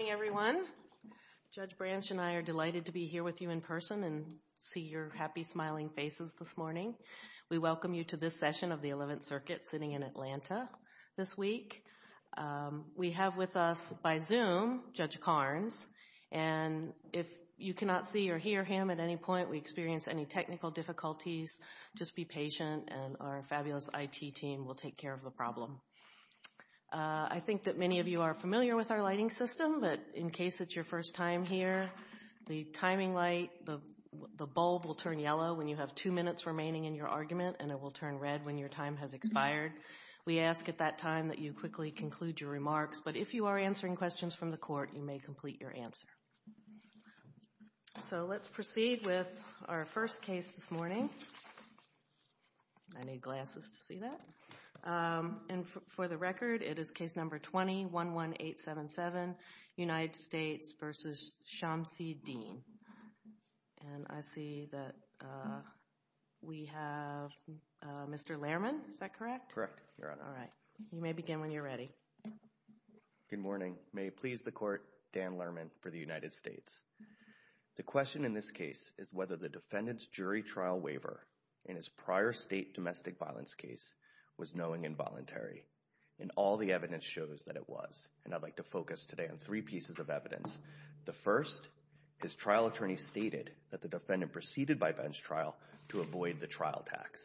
Good morning, everyone. Judge Branch and I are delighted to be here with you in person and see your happy, smiling faces this morning. We welcome you to this session of the Eleventh Circuit sitting in Atlanta this week. We have with us by Zoom Judge Carnes, and if you cannot see or hear him at any point, we experience any technical difficulties, just be patient and our fabulous IT team will take care of the problem. I think that many of you are but in case it's your first time here, the timing light, the bulb will turn yellow when you have two minutes remaining in your argument, and it will turn red when your time has expired. We ask at that time that you quickly conclude your remarks, but if you are answering questions from the court, you may complete your answer. So let's proceed with our first case this morning, United States v. Shamsid-Deen, and I see that we have Mr. Lehrman, is that correct? Correct. You may begin when you're ready. Good morning. May it please the Court, Dan Lehrman for the United States. The question in this case is whether the defendant's jury trial waiver in his prior state domestic violence case was knowing and voluntary, and all the evidence shows that it was, and I'd like to provide two pieces of evidence. The first, his trial attorney stated that the defendant proceeded by bench trial to avoid the trial tax.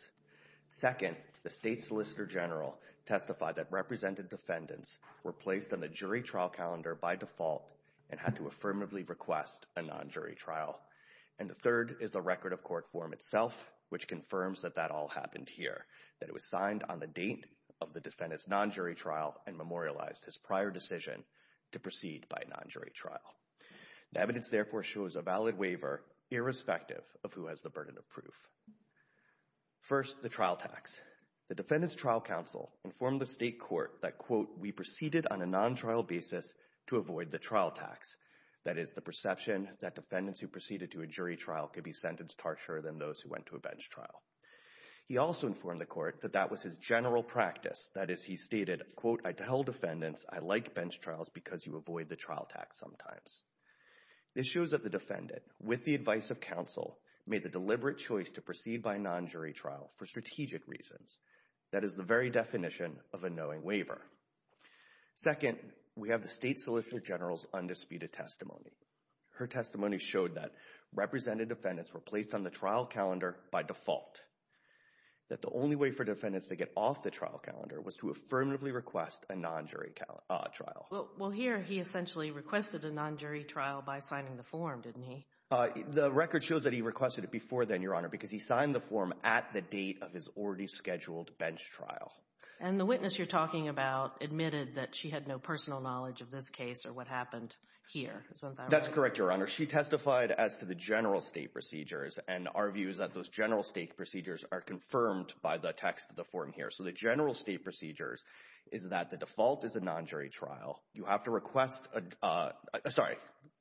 Second, the state solicitor general testified that represented defendants were placed on the jury trial calendar by default and had to affirmatively request a non-jury trial. And the third is the record of court form itself which confirms that that all happened here, that it was signed on the date of the non-jury trial. The evidence therefore shows a valid waiver irrespective of who has the burden of proof. First, the trial tax. The defendant's trial counsel informed the state court that, quote, we proceeded on a non-trial basis to avoid the trial tax. That is the perception that defendants who proceeded to a jury trial could be sentenced harsher than those who went to a bench trial. He also informed the court that that was his general practice. That is, he stated, quote, I tell defendants I like bench trials because you avoid the tax sometimes. This shows that the defendant, with the advice of counsel, made the deliberate choice to proceed by a non-jury trial for strategic reasons. That is the very definition of a knowing waiver. Second, we have the state solicitor general's undisputed testimony. Her testimony showed that represented defendants were placed on the trial calendar by default. That the only way for defendants to get off the trial calendar was to affirmatively request a non-jury trial. Well, here he essentially requested a non-jury trial by signing the form, didn't he? The record shows that he requested it before then, Your Honor, because he signed the form at the date of his already scheduled bench trial. And the witness you're talking about admitted that she had no personal knowledge of this case or what happened here. Isn't that right? That's correct, Your Honor. She testified as to the general state procedures and our view is that those general state procedures are confirmed by the text of the form here. So the general state procedures is that the default is a non-jury trial. You have to request a, sorry,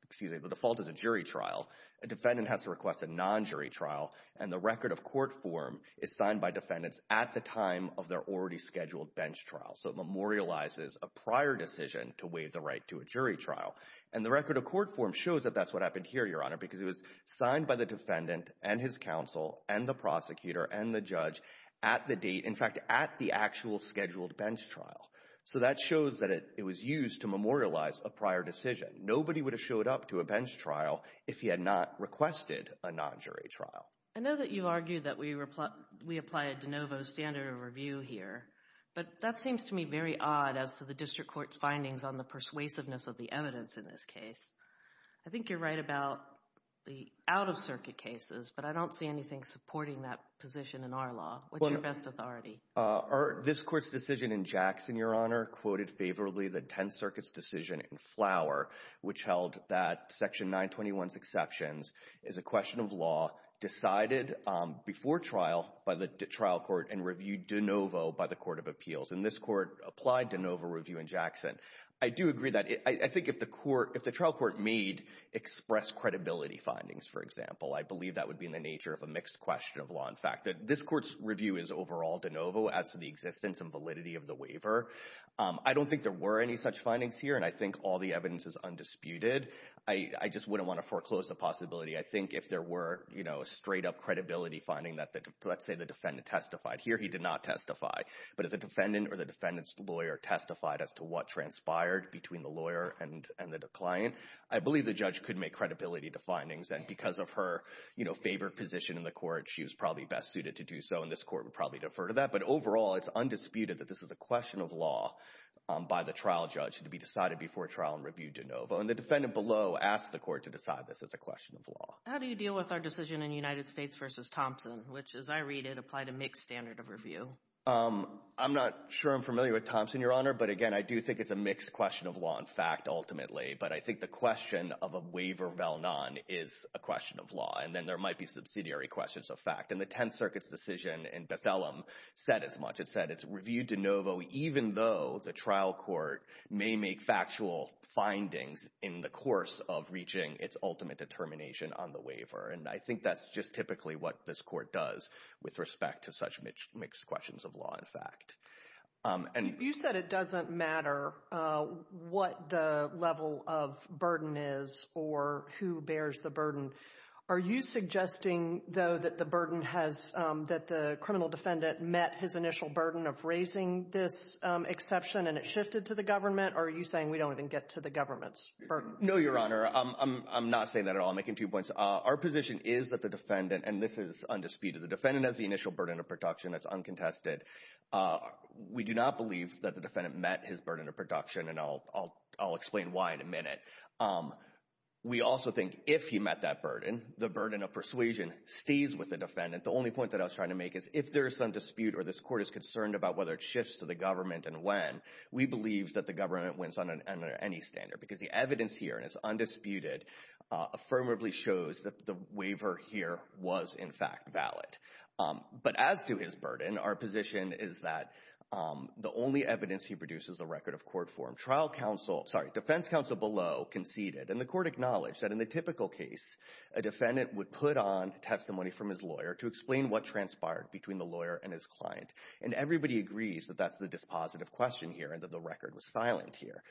excuse me, the default is a jury trial. A defendant has to request a non-jury trial and the record of court form is signed by defendants at the time of their already scheduled bench trial. So it memorializes a prior decision to waive the right to a jury trial. And the record of court form shows that that's what happened here, Your Honor, because it was signed by the defendant and his counsel and the prosecutor and the judge at the date, in fact, at the actual scheduled bench trial. So that shows that it was used to memorialize a prior decision. Nobody would have showed up to a bench trial if he had not requested a non-jury trial. I know that you argue that we apply a de novo standard of review here, but that seems to me very odd as to the district court's findings on the persuasiveness of the evidence in this case. I think you're right about the out-of-circuit cases, but I don't see anything supporting that position in our law. What's your best authority? This Court's decision in Jackson, Your Honor, quoted favorably the Tenth Circuit's decision in Flower, which held that Section 921's exceptions is a question of law decided before trial by the trial court and reviewed de novo by the Court of Appeals. And this Court applied de novo review in Jackson. I do agree that. I think if the trial court made express credibility findings, for example, I believe that would be in the nature of a mixed question of law and fact. This Court's review is overall de novo as to the existence and validity of the waiver. I don't think there were any such findings here, and I think all the evidence is undisputed. I just wouldn't want to foreclose the possibility. I think if there were, you know, a straight-up credibility finding that, let's say, the defendant testified here, he did not testify. But if the defendant or the defendant's lawyer testified as to what transpired between the lawyer and the client, I believe the judge could make credibility to findings. And because of her, you know, favored position in the Court, she was probably best suited to do so, and this Court would probably defer to that. But overall, it's undisputed that this is a question of law by the trial judge to be decided before trial and reviewed de novo. And the defendant below asked the Court to decide this is a question of law. How do you deal with our decision in United States v. Thompson, which, as I read it, applied a mixed standard of review? I'm not sure I'm familiar with Thompson, Your Honor, but, again, I do think it's a mixed question of law and fact, ultimately. But I think the question of a waiver val non is a question of law, and then there might be subsidiary questions of fact. And the Tenth Circuit's decision in Bethelem said as much. It said it's reviewed de novo even though the trial court may make factual findings in the course of reaching its ultimate determination on the waiver. And I think that's just typically what this Court does with respect to such mixed questions of law and fact. You said it doesn't matter what the level of burden is or who bears the burden. Are you suggesting, though, that the burden has, that the criminal defendant met his initial burden of raising this exception and it shifted to the government? Or are you saying we don't even get to the government's burden? No, Your Honor. I'm not saying that at all. I'm making two points. Our position is that the defendant, and this is undisputed, the defendant has the initial burden of protection. It's uncontested. We do not believe that the defendant met his burden of production, and I'll explain why in a minute. We also think if he met that burden, the burden of persuasion stays with the defendant. The only point that I was trying to make is if there is some dispute or this Court is concerned about whether it shifts to the government and when, we believe that the government wins on any standard because the evidence here is undisputed, affirmatively shows that the waiver here was, in fact, valid. But as to his burden, our position is that the only evidence he produces, the record of court form, trial counsel, sorry, defense counsel below conceded, and the Court acknowledged that in the typical case, a defendant would put on testimony from his lawyer to explain what transpired between the lawyer and his client, and everybody agrees that that's the dispositive question here and that the record was silent here.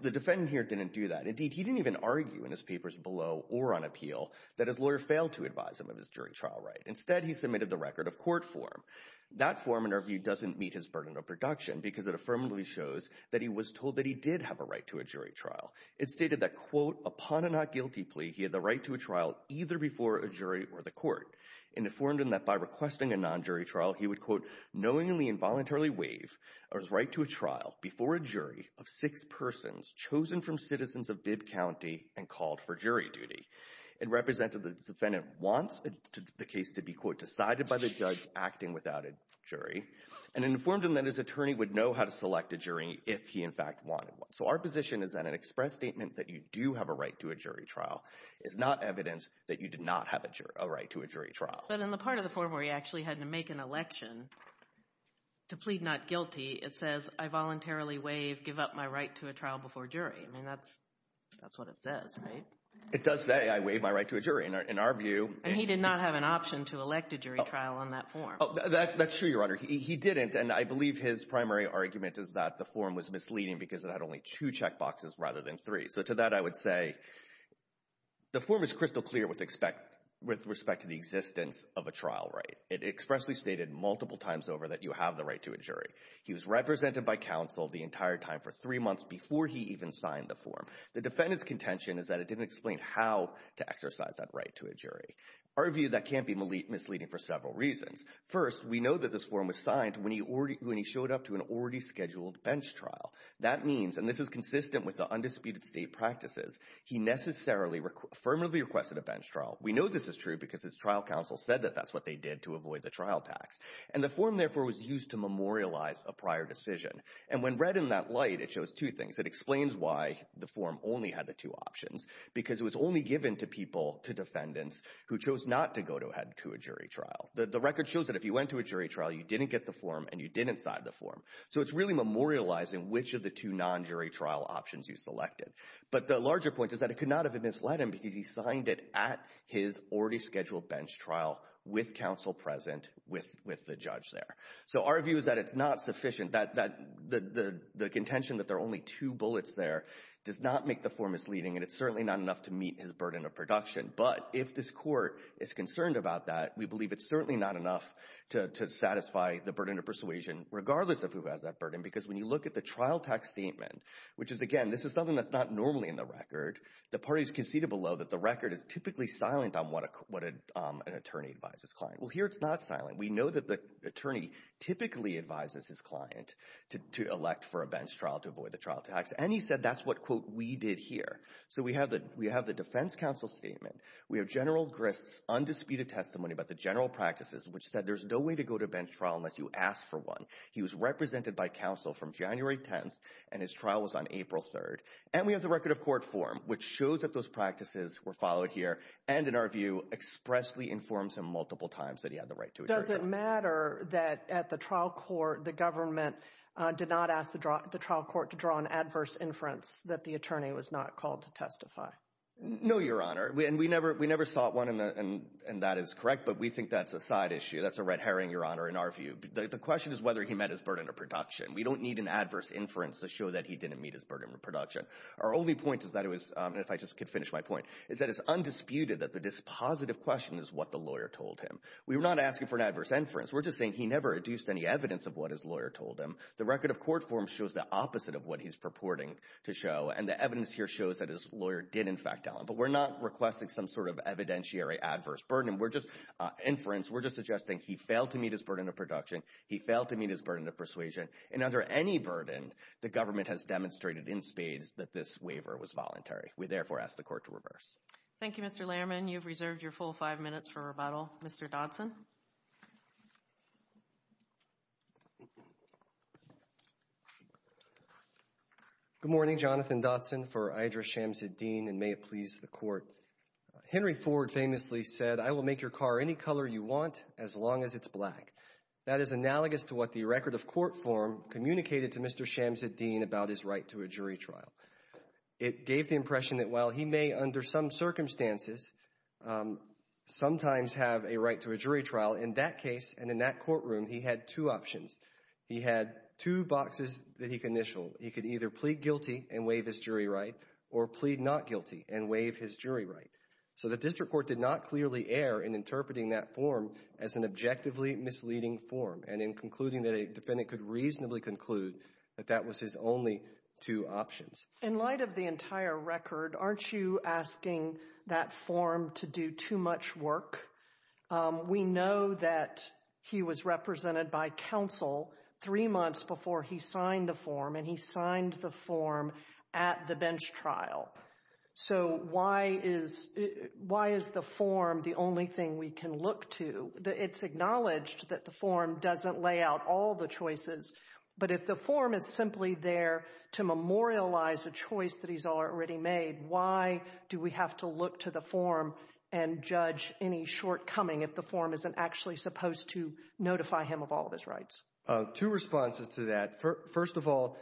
The defendant here didn't do that. Indeed, he didn't even accuse his lawyers below or on appeal that his lawyer failed to advise him of his jury trial right. Instead, he submitted the record of court form. That form, in our view, doesn't meet his burden of production because it affirmatively shows that he was told that he did have a right to a jury trial. It stated that, quote, upon a not guilty plea, he had the right to a trial either before a jury or the Court, and it informed him that by requesting a non-jury trial, he would, quote, knowingly and voluntarily waive his right to a trial before a jury of six persons chosen from citizens of Bibb County and called for jury duty. It represented the defendant wants the case to be, quote, decided by the judge acting without a jury, and it informed him that his attorney would know how to select a jury if he, in fact, wanted one. So our position is that an express statement that you do have a right to a jury trial is not evidence that you did not have a right to a jury trial. But in the part of the form where he actually had to make an election to plead not guilty, it says, I voluntarily waive, give up my right to a trial before a jury. I mean, that's what it says, right? It does say, I waive my right to a jury. In our view— And he did not have an option to elect a jury trial on that form. That's true, Your Honor. He didn't, and I believe his primary argument is that the form was misleading because it had only two checkboxes rather than three. So to that, I would say the form is crystal clear with respect to the existence of a trial right. It expressly stated multiple times over that you have the right to a jury. He was represented by counsel the entire time for three months before he even signed the form. The defendant's contention is that it didn't explain how to exercise that right to a jury. Our view, that can't be misleading for several reasons. First, we know that this form was signed when he showed up to an already scheduled bench trial. That means, and this is consistent with the undisputed state practices, he necessarily, affirmatively requested a bench trial. We know this is true because his trial counsel said that that's what they did to avoid the trial tax. And the form, therefore, was used to memorialize a prior decision. And when read in that light, it shows two things. It explains why the form only had the two options, because it was only given to people, to defendants, who chose not to go ahead to a jury trial. The record shows that if you went to a jury trial, you didn't get the form and you didn't sign the form. So it's really memorializing which of the two non-jury trial options you selected. But the larger point is that it could not have misled him because he signed it at his already scheduled bench trial with counsel present, with the judge there. So our view is that it's not sufficient, that the contention that there are only two bullets there does not make the form misleading and it's certainly not enough to meet his burden of production. But if this court is concerned about that, we believe it's certainly not enough to satisfy the burden of persuasion, regardless of who has that burden. Because when you look at the trial tax statement, which is, again, this is something that's not normally in the record, the parties conceded below that the record is typically silent on what an attorney advises his client. Well, here it's not silent. We know that the attorney typically advises his client to elect for a bench trial to avoid the trial tax. And he said that's what, quote, we did here. So we have the defense counsel statement. We have General Grist's undisputed testimony about the general practices, which said there's no way to go to a bench trial unless you ask for one. He was represented by counsel from April 3rd. And we have the record of court form, which shows that those practices were followed here and, in our view, expressly informs him multiple times that he had the right to a trial. Does it matter that at the trial court, the government did not ask the trial court to draw an adverse inference that the attorney was not called to testify? No, Your Honor. And we never sought one, and that is correct, but we think that's a side issue. That's a red herring, Your Honor, in our view. The question is whether he met his burden of production. We don't need an adverse burden of production. Our only point is that it was, and if I just could finish my point, is that it's undisputed that the dispositive question is what the lawyer told him. We're not asking for an adverse inference. We're just saying he never adduced any evidence of what his lawyer told him. The record of court form shows the opposite of what he's purporting to show, and the evidence here shows that his lawyer did, in fact, tell him. But we're not requesting some sort of evidentiary adverse burden. We're just inference. We're just suggesting he failed to meet his burden of production. He failed to meet his burden of persuasion, and under any burden, the government has demonstrated in spades that this waiver was voluntary. We therefore ask the court to reverse. Thank you, Mr. Lehrman. You've reserved your full five minutes for rebuttal. Mr. Dotson. Good morning. Jonathan Dotson for Idris Shamsid Dean, and may it please the court. Henry Ford famously said, I will make your car any color you want, as long as it's black. That is analogous to what the record of court form communicated to Mr. Shamsid Dean about his right to a jury trial. It gave the impression that while he may, under some circumstances, sometimes have a right to a jury trial, in that case, and in that courtroom, he had two options. He had two boxes that he could initial. He could either plead guilty and waive his jury right, or plead not guilty and waive his jury right. So the district court did not clearly err in interpreting that form as an objectively misleading form, and in concluding that a defendant could reasonably conclude that that was his only two options. In light of the entire record, aren't you asking that form to do too much work? We know that he was represented by counsel three months before he signed the form, and he signed the thing we can look to. It's acknowledged that the form doesn't lay out all the choices, but if the form is simply there to memorialize a choice that he's already made, why do we have to look to the form and judge any shortcoming if the form isn't actually supposed to notify him of all of his rights? Two responses to that. First of all,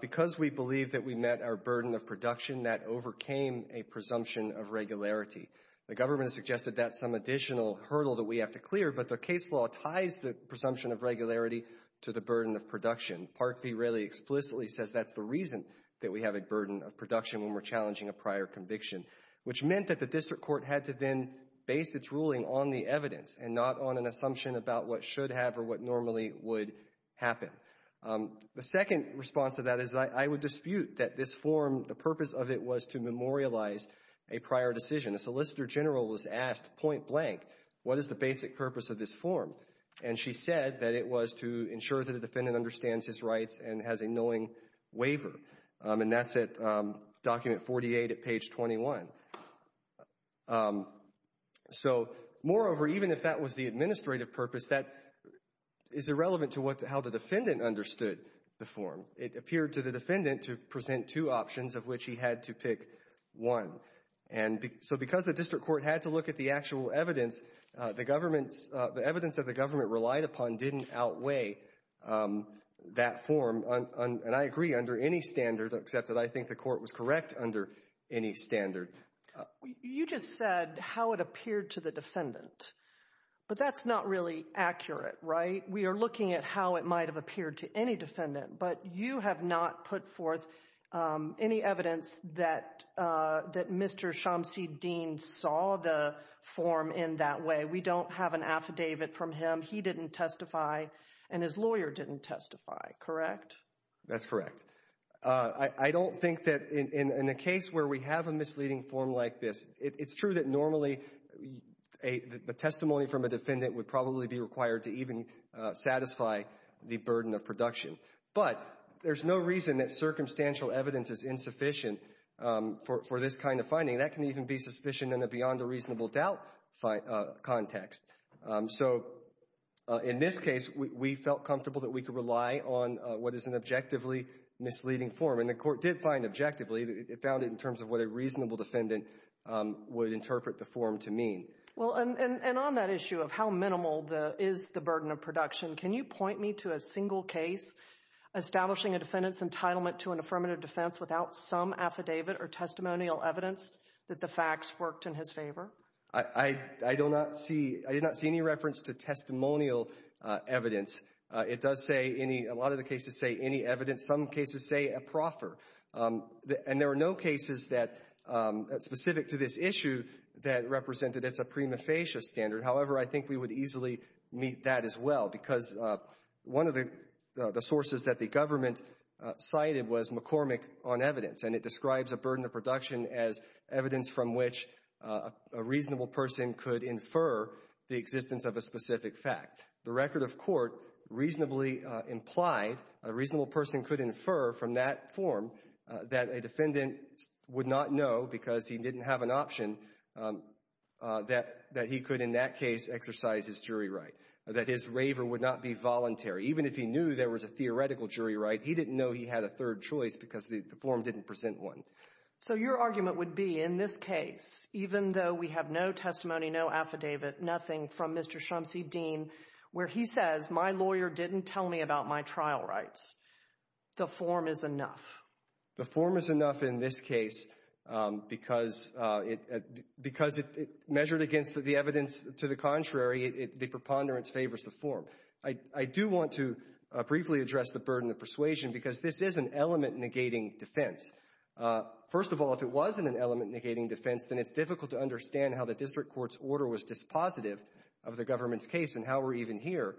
because we believe that we met our burden of production, that overcame a presumption of regularity. The government has suggested that's some additional hurdle that we have to clear, but the case law ties the presumption of regularity to the burden of production. Part V really explicitly says that's the reason that we have a burden of production when we're challenging a prior conviction, which meant that the district court had to then base its ruling on the evidence and not on an assumption about what should have or what normally would happen. The second response to that is I would dispute that this form, the purpose of it was to memorialize a prior decision. A Solicitor General was asked point blank, what is the basic purpose of this form? And she said that it was to ensure that the defendant understands his rights and has a knowing waiver. And that's at document 48 at page 21. So, moreover, even if that was the administrative purpose, that is irrelevant to how the defendant understood the form. It appeared to the defendant to present two options of which he had to pick one. And so because the district court had to look at the actual evidence, the evidence that the government relied upon didn't outweigh that form. And I agree under any standard, except that I think the court was correct under any standard. You just said how it appeared to the defendant, but that's not really accurate, right? We are looking at how it might have appeared to any defendant, but you have not put forth any evidence that Mr. Shamsi Dean saw the form in that way. We don't have an affidavit from him. He didn't testify and his lawyer didn't testify, correct? That's correct. I don't think that in a case where we have a misleading form like this, it's true that normally the testimony from a defendant would probably be required to even satisfy the burden of production. But there's no reason that circumstantial evidence is insufficient for this kind of finding. That can even be sufficient in a beyond a reasonable doubt context. So, in this case, we felt comfortable that we could rely on what is an objectively misleading form. And the court did find objectively, it found it in terms of what a reasonable defendant would interpret the form to mean. Well, and on that issue of how minimal is the burden of production, can you point me to a single case establishing a defendant's entitlement to an affirmative defense without some affidavit or testimonial evidence that the facts worked in his favor? I do not see, I did not see any reference to testimonial evidence. It does say a lot of the cases say any evidence. Some cases say a proffer. And there are no cases that, specific to this issue, that represented it's a prima facie standard. However, I think we would easily meet that as well because one of the sources that the government cited was McCormick on evidence. And it describes a burden of production as evidence from which a reasonable person could infer the existence of a specific fact. The record of court reasonably implied a reasonable person could infer from that form that a defendant would not know because he didn't have an option that he could, in that case, exercise his jury right. That his waiver would not be voluntary. Even if he knew there was a theoretical jury right, he didn't know he had a third choice because the form didn't present one. So your argument would be, in this case, even though we have no testimony, no affidavit, nothing from Mr. Shrumsey, Dean, where he says, my lawyer didn't tell me about my trial rights, the form is enough. The form is enough in this case because it measured against the evidence to the contrary, the preponderance favors the form. I do want to briefly address the burden of persuasion because this is an element negating defense. First of all, if it wasn't an element negating defense, then it's difficult to understand how the district court's order was dispositive of the government's case and how we're even here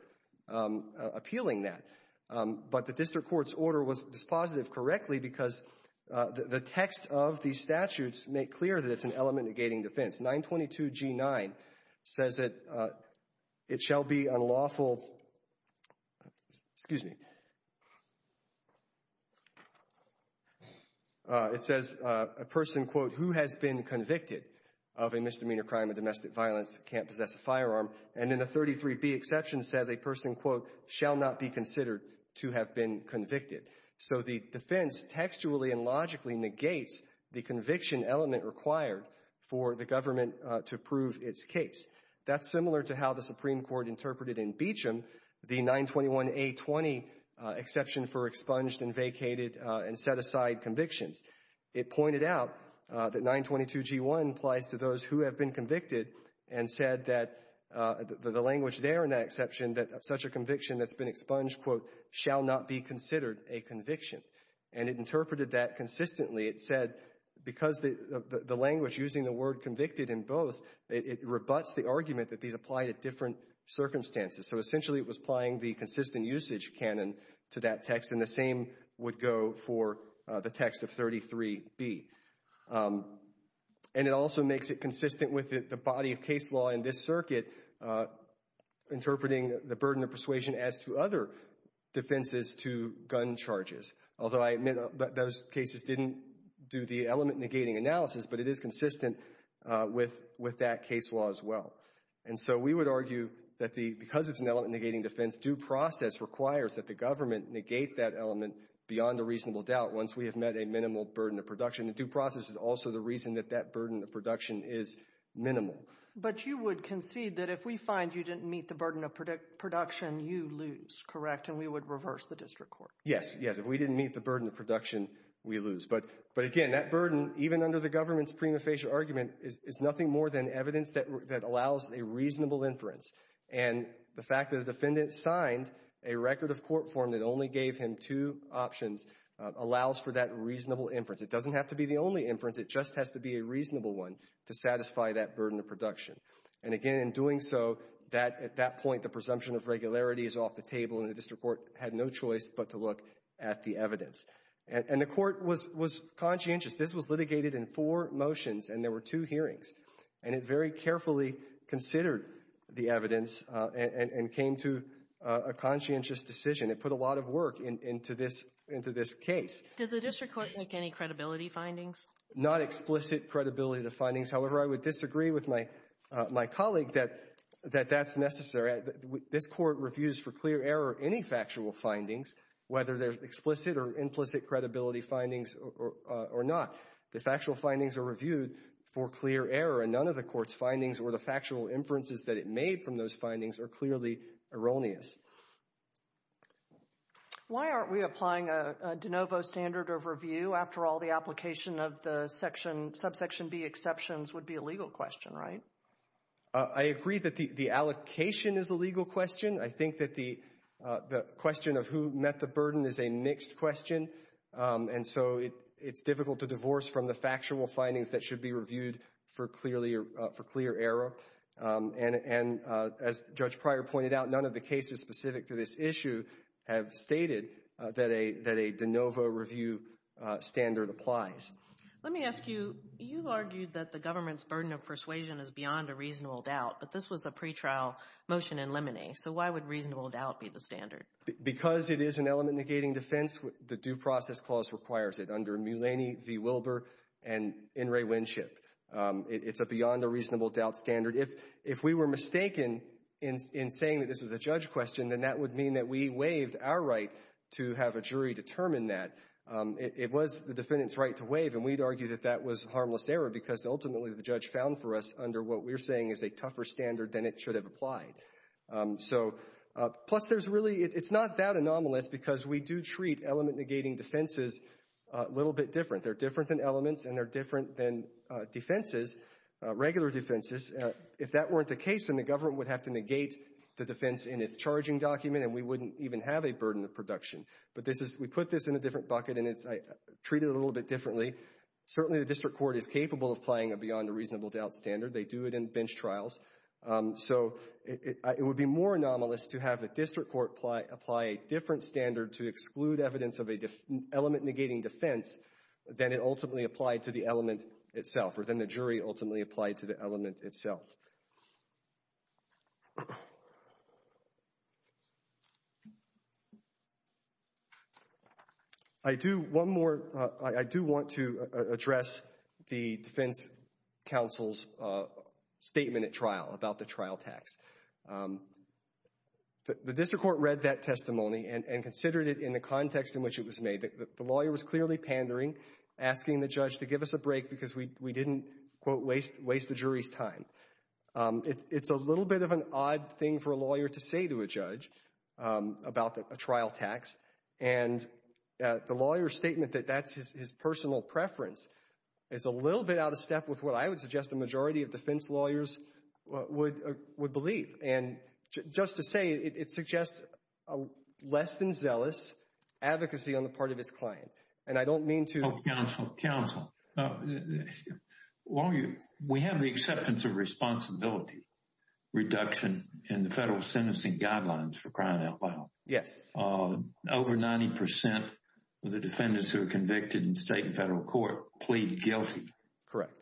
appealing that. But the district court's order was dispositive correctly because the text of the statutes make clear that it's an element negating defense. 922G9 says that it shall be unlawful, excuse me, it says, a person, quote, who has been convicted of a misdemeanor crime of domestic violence can't possess a firearm. And in the 33B exception says a person, quote, shall not be considered to have been convicted. So the defense textually and logically negates the conviction element required for the government to prove its case. That's similar to how the Supreme Court interpreted in Beecham the 921A20 exception for expunged and vacated and set aside convictions. It pointed out that 922G1 applies to those who have been convicted and said that the language there in that exception that such a conviction that's been expunged, quote, shall not be considered a conviction. And it interpreted that consistently. It said because the language using the word convicted in both, it rebuts the argument that these apply to different circumstances. So essentially it was applying the consistent usage canon to that text and the same would go for the text of 33B. And it also makes it consistent with the body of case law in this circuit interpreting the burden of persuasion as to other defenses to gun charges. Although I admit that those cases didn't do the element negating analysis, but it is consistent with that case law as well. And so we would argue that because it's an element negating defense, due process requires that the government negate that element beyond a reasonable doubt once we have met a minimal burden of production. And due process is also the reason that that burden of production is minimal. But you would concede that if we find you didn't meet the burden of production, you lose, correct? And we would reverse the district court. Yes, yes. If we didn't meet the burden of production, we lose. But again, that burden, even under the government's prima more than evidence that allows a reasonable inference. And the fact that a defendant signed a record of court form that only gave him two options allows for that reasonable inference. It doesn't have to be the only inference. It just has to be a reasonable one to satisfy that burden of production. And again, in doing so, at that point, the presumption of regularity is off the table and the district court had no choice but to look at the evidence. And the court was conscientious. This was litigated in four motions and there were two hearings. And it very carefully considered the evidence and came to a conscientious decision. It put a lot of work into this case. Did the district court make any credibility findings? Not explicit credibility to findings. However, I would disagree with my colleague that that's necessary. This court reviews for clear error any factual findings, whether they're explicit or implicit credibility findings or not. The factual findings are reviewed for clear error and none of the court's findings or the factual inferences that it made from those findings are clearly erroneous. Why aren't we applying a de novo standard of review? After all, the application of the section, subsection B exceptions would be a legal question, right? I agree that the allocation is a legal question. I think that the question of who met the burden is a mixed question. And so it's difficult to divorce from the factual findings that should be reviewed for clear error. And as Judge Pryor pointed out, none of the cases specific to this issue have stated that a de novo review standard applies. Let me ask you, you've argued that the government's burden of persuasion is beyond a reasonable doubt, but this was a pretrial motion in limine. So why would reasonable doubt be the standard? Because it is an element negating defense, the due process clause requires it under Mulaney v. Wilbur and In re Winship. It's a beyond a reasonable doubt standard. If we were mistaken in saying that this is a judge question, then that would mean that we waived our right to have a jury determine that. It was the defendant's right to waive and we'd argue that that was harmless error because ultimately the judge found for us under what we're saying is a tougher standard than it should have applied. So, plus there's really, it's not that anomalous because we do treat element negating defenses a little bit different. They're different than elements and they're different than defenses, regular defenses. If that weren't the case, then the government would have to negate the defense in its charging document and we wouldn't even have a burden of production. But this is, we put this in a different bucket and it's treated a little bit differently. Certainly the district court is capable of applying a beyond a reasonable doubt standard. They do it in bench trials. So, it would be more anomalous to have a district court apply a different standard to exclude evidence of an element negating defense than it ultimately applied to the element itself or than the jury ultimately applied to the element itself. I do, one more, I do want to address the defense counsel's statement at trial about the trial tax. The district court read that testimony and considered it in the context in which it was made. The lawyer was clearly pandering, asking the judge to give us a break because we didn't, quote, waste the jury's time. It's a little bit of an odd thing for a lawyer to say to a judge about a trial tax. And the lawyer's statement that that's his personal preference is a little bit out of step with what I would suggest a majority of defense lawyers would believe. And just to say, it suggests a less than zealous advocacy on the part of his client. And I don't mean to— Counsel, while you, we have the acceptance of responsibility reduction in the federal sentencing guidelines for crime outlaw. Yes. Over 90% of the defendants who are convicted in state and federal court plead guilty. Correct.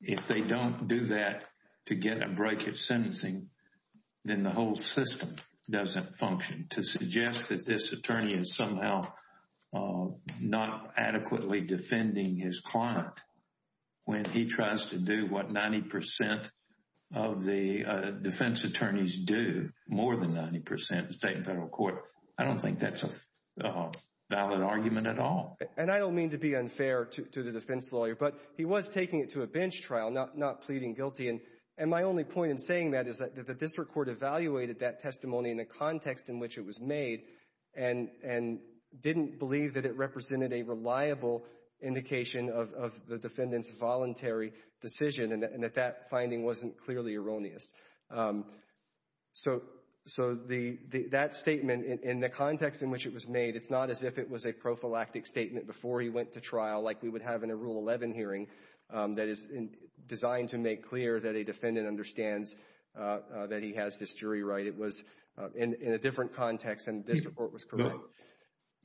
If they don't do that to get a break at sentencing, then the whole system doesn't function. To defend his client when he tries to do what 90% of the defense attorneys do, more than 90% in state and federal court, I don't think that's a valid argument at all. And I don't mean to be unfair to the defense lawyer, but he was taking it to a bench trial, not pleading guilty. And my only point in saying that is that the district court evaluated that testimony in the context in which it was made and didn't believe that it represented a reliable indication of the defendant's voluntary decision, and that that finding wasn't clearly erroneous. So that statement, in the context in which it was made, it's not as if it was a prophylactic statement before he went to trial like we would have in a Rule 11 hearing that is designed to make clear that a defendant understands that he has this jury right. It was in a different context, and this report was correct.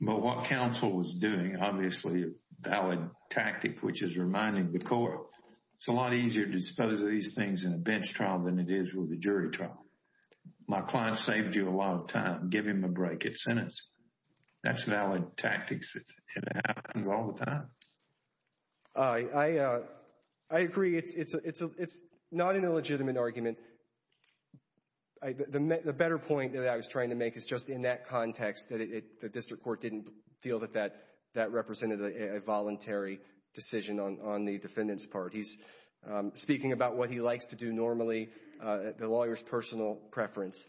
But what counsel was doing, obviously, a valid tactic, which is reminding the court, it's a lot easier to dispose of these things in a bench trial than it is with a jury trial. My client saved you a lot of time. Give him a break at sentence. That's valid tactics. It happens all the time. I agree. It's not an illegitimate argument. The better point that I was trying to make is just in that context that the district court didn't feel that that represented a voluntary decision on the defendant's part. He's speaking about what he likes to do normally, the lawyer's personal preference.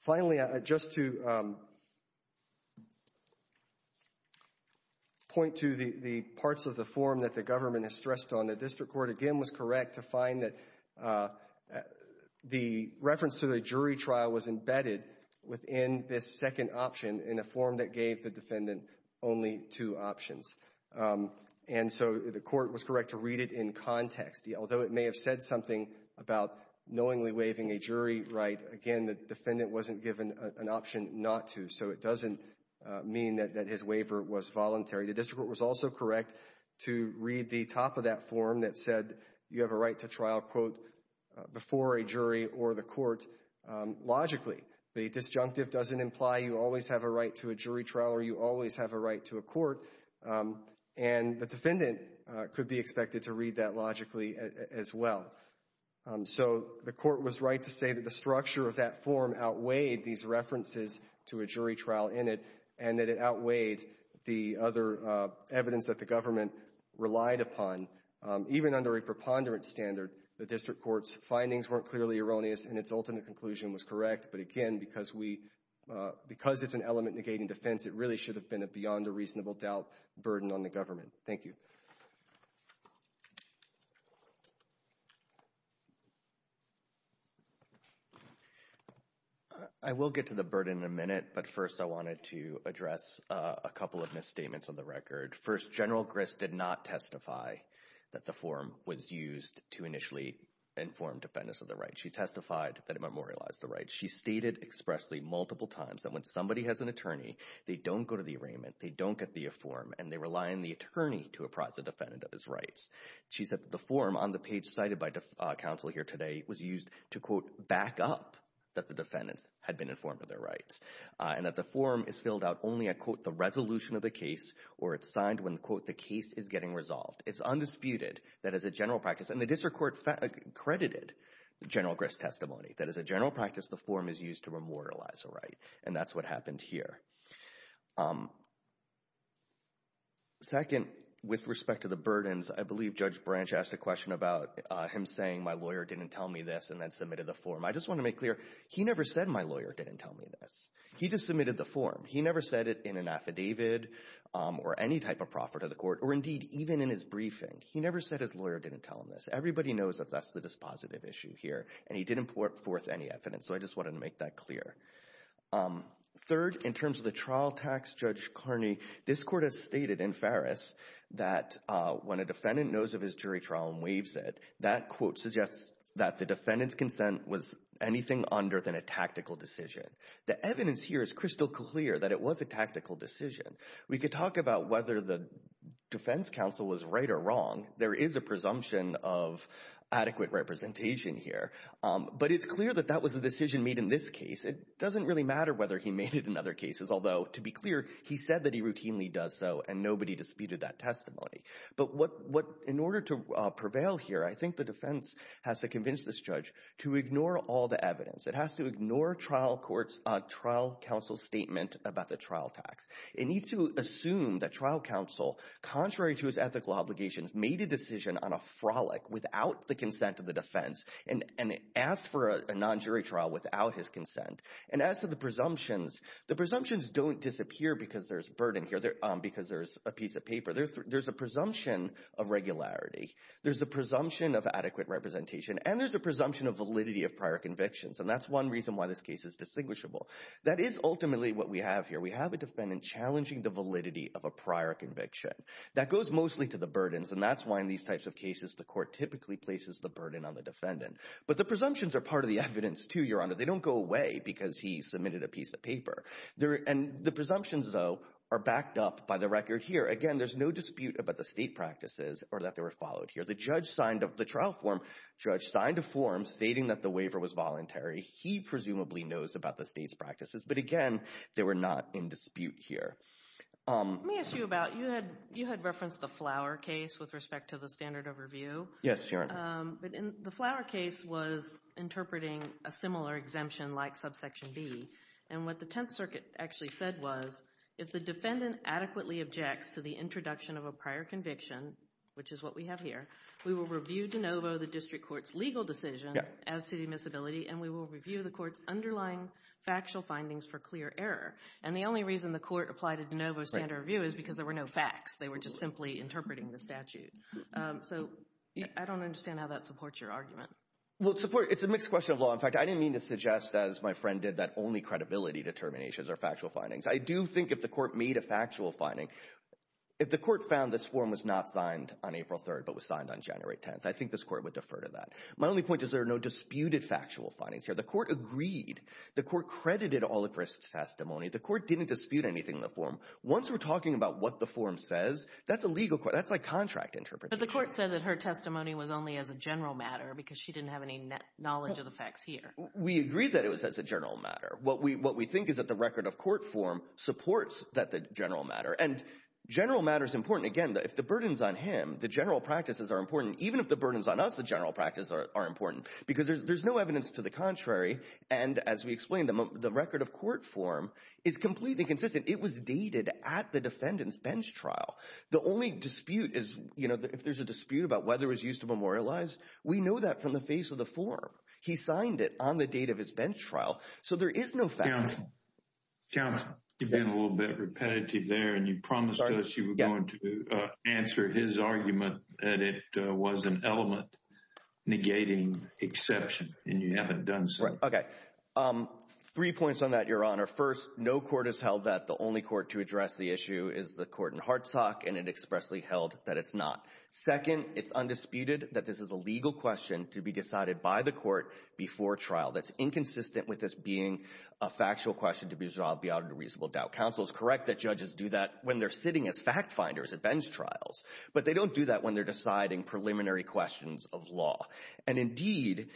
Finally, just to point to the parts of the form that the government has stressed on, the district court, again, was correct to find that the reference to the jury trial was embedded within this second option in a form that gave the defendant only two options. And so the court was correct to read it in context. Although it may have said something about knowingly waiving a jury right, again, the defendant wasn't given an option not to. So it doesn't mean that his waiver was voluntary. The district court was also correct to read the top of that form that said you have a right to trial, quote, before a jury or the court, logically. The disjunctive doesn't imply you always have a right to a jury trial or you always have a right to a court. And the defendant could be expected to read that logically as well. So the court was right to say that the structure of that form outweighed these references to Even under a preponderance standard, the district court's findings weren't clearly erroneous and its ultimate conclusion was correct. But again, because it's an element negating defense, it really should have been a beyond a reasonable doubt burden on the government. Thank you. I will get to the burden in a minute. But first, I wanted to address a couple of misstatements on the record. First, General Grist did not testify that the form was used to initially inform defendants of their rights. She testified that it memorialized the rights. She stated expressly multiple times that when somebody has an attorney, they don't go to the arraignment, they don't get the form, and they rely on the attorney to apprise the defendant of his rights. She said that the form on the page cited by counsel here today was used to, quote, back up that the defendants had been informed of their rights. And that the form is filled out only at, quote, the resolution of the case or it's signed when, quote, the case is getting resolved. It's undisputed that as a general practice, and the district court credited the General Grist testimony, that as a general practice, the form is used to memorialize a right. And that's what happened here. Second, with respect to the burdens, I believe Judge Branch asked a question about him saying my lawyer didn't tell me this and then submitted the form. I just want to make clear, he never said my lawyer didn't tell me this. He just submitted the form. He never said it in an affidavit or any type of proffer to the court or, indeed, even in his briefing. He never said his lawyer didn't tell him this. Everybody knows that that's the dispositive issue here. And he didn't put forth any evidence. So I just wanted to make that clear. Third, in terms of the trial tax, Judge Carney, this court has stated in Farris that when a defendant knows of his jury trial and waives it, that, quote, suggests that the defendant's a tactical decision. The evidence here is crystal clear that it was a tactical decision. We could talk about whether the defense counsel was right or wrong. There is a presumption of adequate representation here. But it's clear that that was a decision made in this case. It doesn't really matter whether he made it in other cases, although, to be clear, he said that he routinely does so, and nobody disputed that testimony. But what, in order to prevail here, I think the defense has to convince this judge to ignore trial counsel's statement about the trial tax. It needs to assume that trial counsel, contrary to his ethical obligations, made a decision on a frolic without the consent of the defense and asked for a non-jury trial without his consent. And as to the presumptions, the presumptions don't disappear because there's burden here, because there's a piece of paper. There's a presumption of regularity. There's a presumption of adequate representation. And there's a presumption of validity of why this case is distinguishable. That is ultimately what we have here. We have a defendant challenging the validity of a prior conviction. That goes mostly to the burdens, and that's why in these types of cases the court typically places the burden on the defendant. But the presumptions are part of the evidence, too, Your Honor. They don't go away because he submitted a piece of paper. And the presumptions, though, are backed up by the record here. Again, there's no dispute about the state practices or that they were followed here. The judge signed a form stating that the waiver was voluntary. He presumably knows about the state's practices. But again, they were not in dispute here. Let me ask you about, you had referenced the Flower case with respect to the standard of review. Yes, Your Honor. But in the Flower case was interpreting a similar exemption like subsection B. And what the Tenth Circuit actually said was, if the defendant adequately objects to the introduction of a prior conviction, which is what we have here, we will review de novo the district court's legal decision as to the admissibility, and we will review the court's underlying factual findings for clear error. And the only reason the court applied a de novo standard of review is because there were no facts. They were just simply interpreting the statute. So I don't understand how that supports your argument. Well, it's a mixed question of law. In fact, I didn't mean to suggest, as my friend did, that only credibility determinations are factual findings. I do think if the court made a factual finding, if the court found this form was not signed on April 3rd but was signed on My only point is there are no disputed factual findings here. The court agreed. The court credited all of her testimony. The court didn't dispute anything in the form. Once we're talking about what the form says, that's a legal court. That's like contract interpretation. But the court said that her testimony was only as a general matter because she didn't have any knowledge of the facts here. We agree that it was as a general matter. What we think is that the record of court form supports that the general matter. And general matter is important. Again, if the burden's on him, the general practices are important. Because there's no evidence to the contrary. And as we explained, the record of court form is completely consistent. It was dated at the defendant's bench trial. The only dispute is, you know, if there's a dispute about whether it was used to memorialize, we know that from the face of the form. He signed it on the date of his bench trial. So there is no fact. Chairman, Chairman, you've been a little bit repetitive there. And you promised us you were going to answer his argument that it was an element negating exception. And you haven't done so. Okay. Three points on that, Your Honor. First, no court has held that the only court to address the issue is the court in Hartsock. And it expressly held that it's not. Second, it's undisputed that this is a legal question to be decided by the court before trial. That's inconsistent with this being a factual question to be resolved beyond a reasonable doubt. Counsel is correct that judges do that when they're sitting as fact finders at bench trials. But they don't do that when they're deciding preliminary questions of law. And indeed,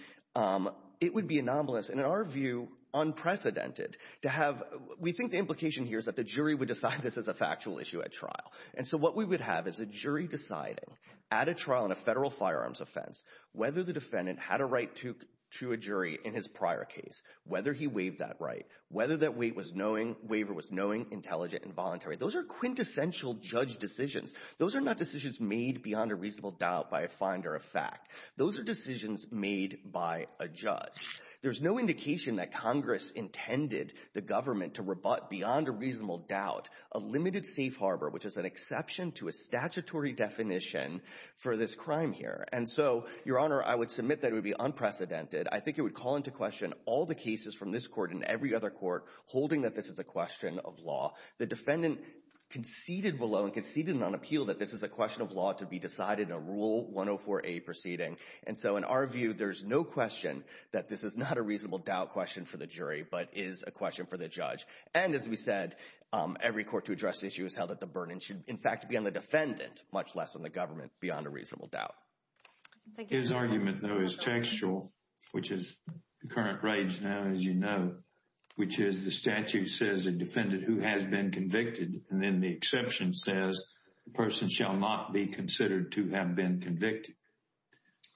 it would be anomalous and, in our view, unprecedented to have. We think the implication here is that the jury would decide this is a factual issue at trial. And so what we would have is a jury deciding at a trial in a federal firearms offense whether the defendant had a right to a jury in his prior case, whether he waived that right, whether that waiver was knowing, intelligent, and voluntary. Those are quintessential judge decisions. Those are not decisions made beyond a reasonable doubt by a finder of fact. Those are decisions made by a judge. There's no indication that Congress intended the government to rebut beyond a reasonable doubt a limited safe harbor, which is an exception to a statutory definition for this crime here. And so, Your Honor, I would submit that it would be unprecedented. I think it would call into question all the cases from this court and every other court holding that this is a question of law. The defendant conceded below and conceded on appeal that this is a question of law to be decided in a Rule 104a proceeding. And so, in our view, there's no question that this is not a reasonable doubt question for the jury, but is a question for the judge. And, as we said, every court to address the issue has held that the burden should, in fact, be on the defendant, much less on the government, beyond a reasonable doubt. His argument, though, is textual, which is the current rage now, as you know, which is the statute says a defendant who has been convicted, and then the exception says the person shall not be considered to have been convicted.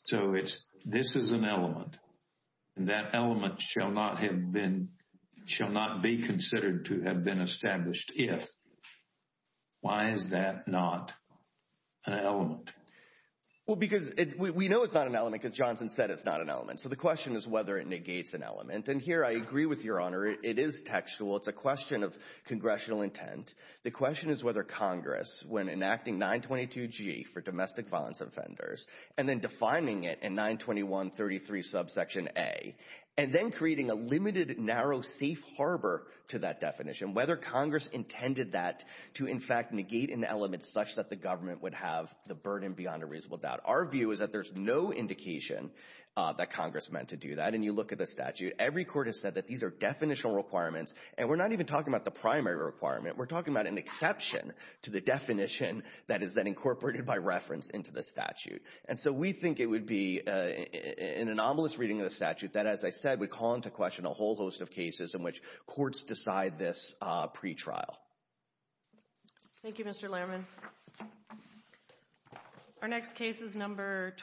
So it's this is an element, and that element shall not have been shall not be considered to have been established if. Why is that not an element? Well, because we know it's not an element because Johnson said it's not an element. So the question is whether it negates an element. And here, I agree with Your Honor, it is textual. It's a question of congressional intent. The question is whether Congress, when enacting 922G for domestic violence offenders, and then defining it in 92133 subsection A, and then creating a limited, narrow, safe harbor to that definition, whether Congress intended that to, in fact, negate an element such that the government would have the burden beyond a reasonable doubt. Our view is that there's no indication that Congress meant to do that. And you look at the statute. Every court has said that these are definitional requirements, and we're not even talking about the primary requirement. We're talking about an exception to the definition that is then incorporated by reference into the statute. And so we think it would be an anomalous reading of the statute that, as I said, would call into question a whole host of cases in which courts decide this pretrial. Thank you, Mr. Lerman. Our next case is number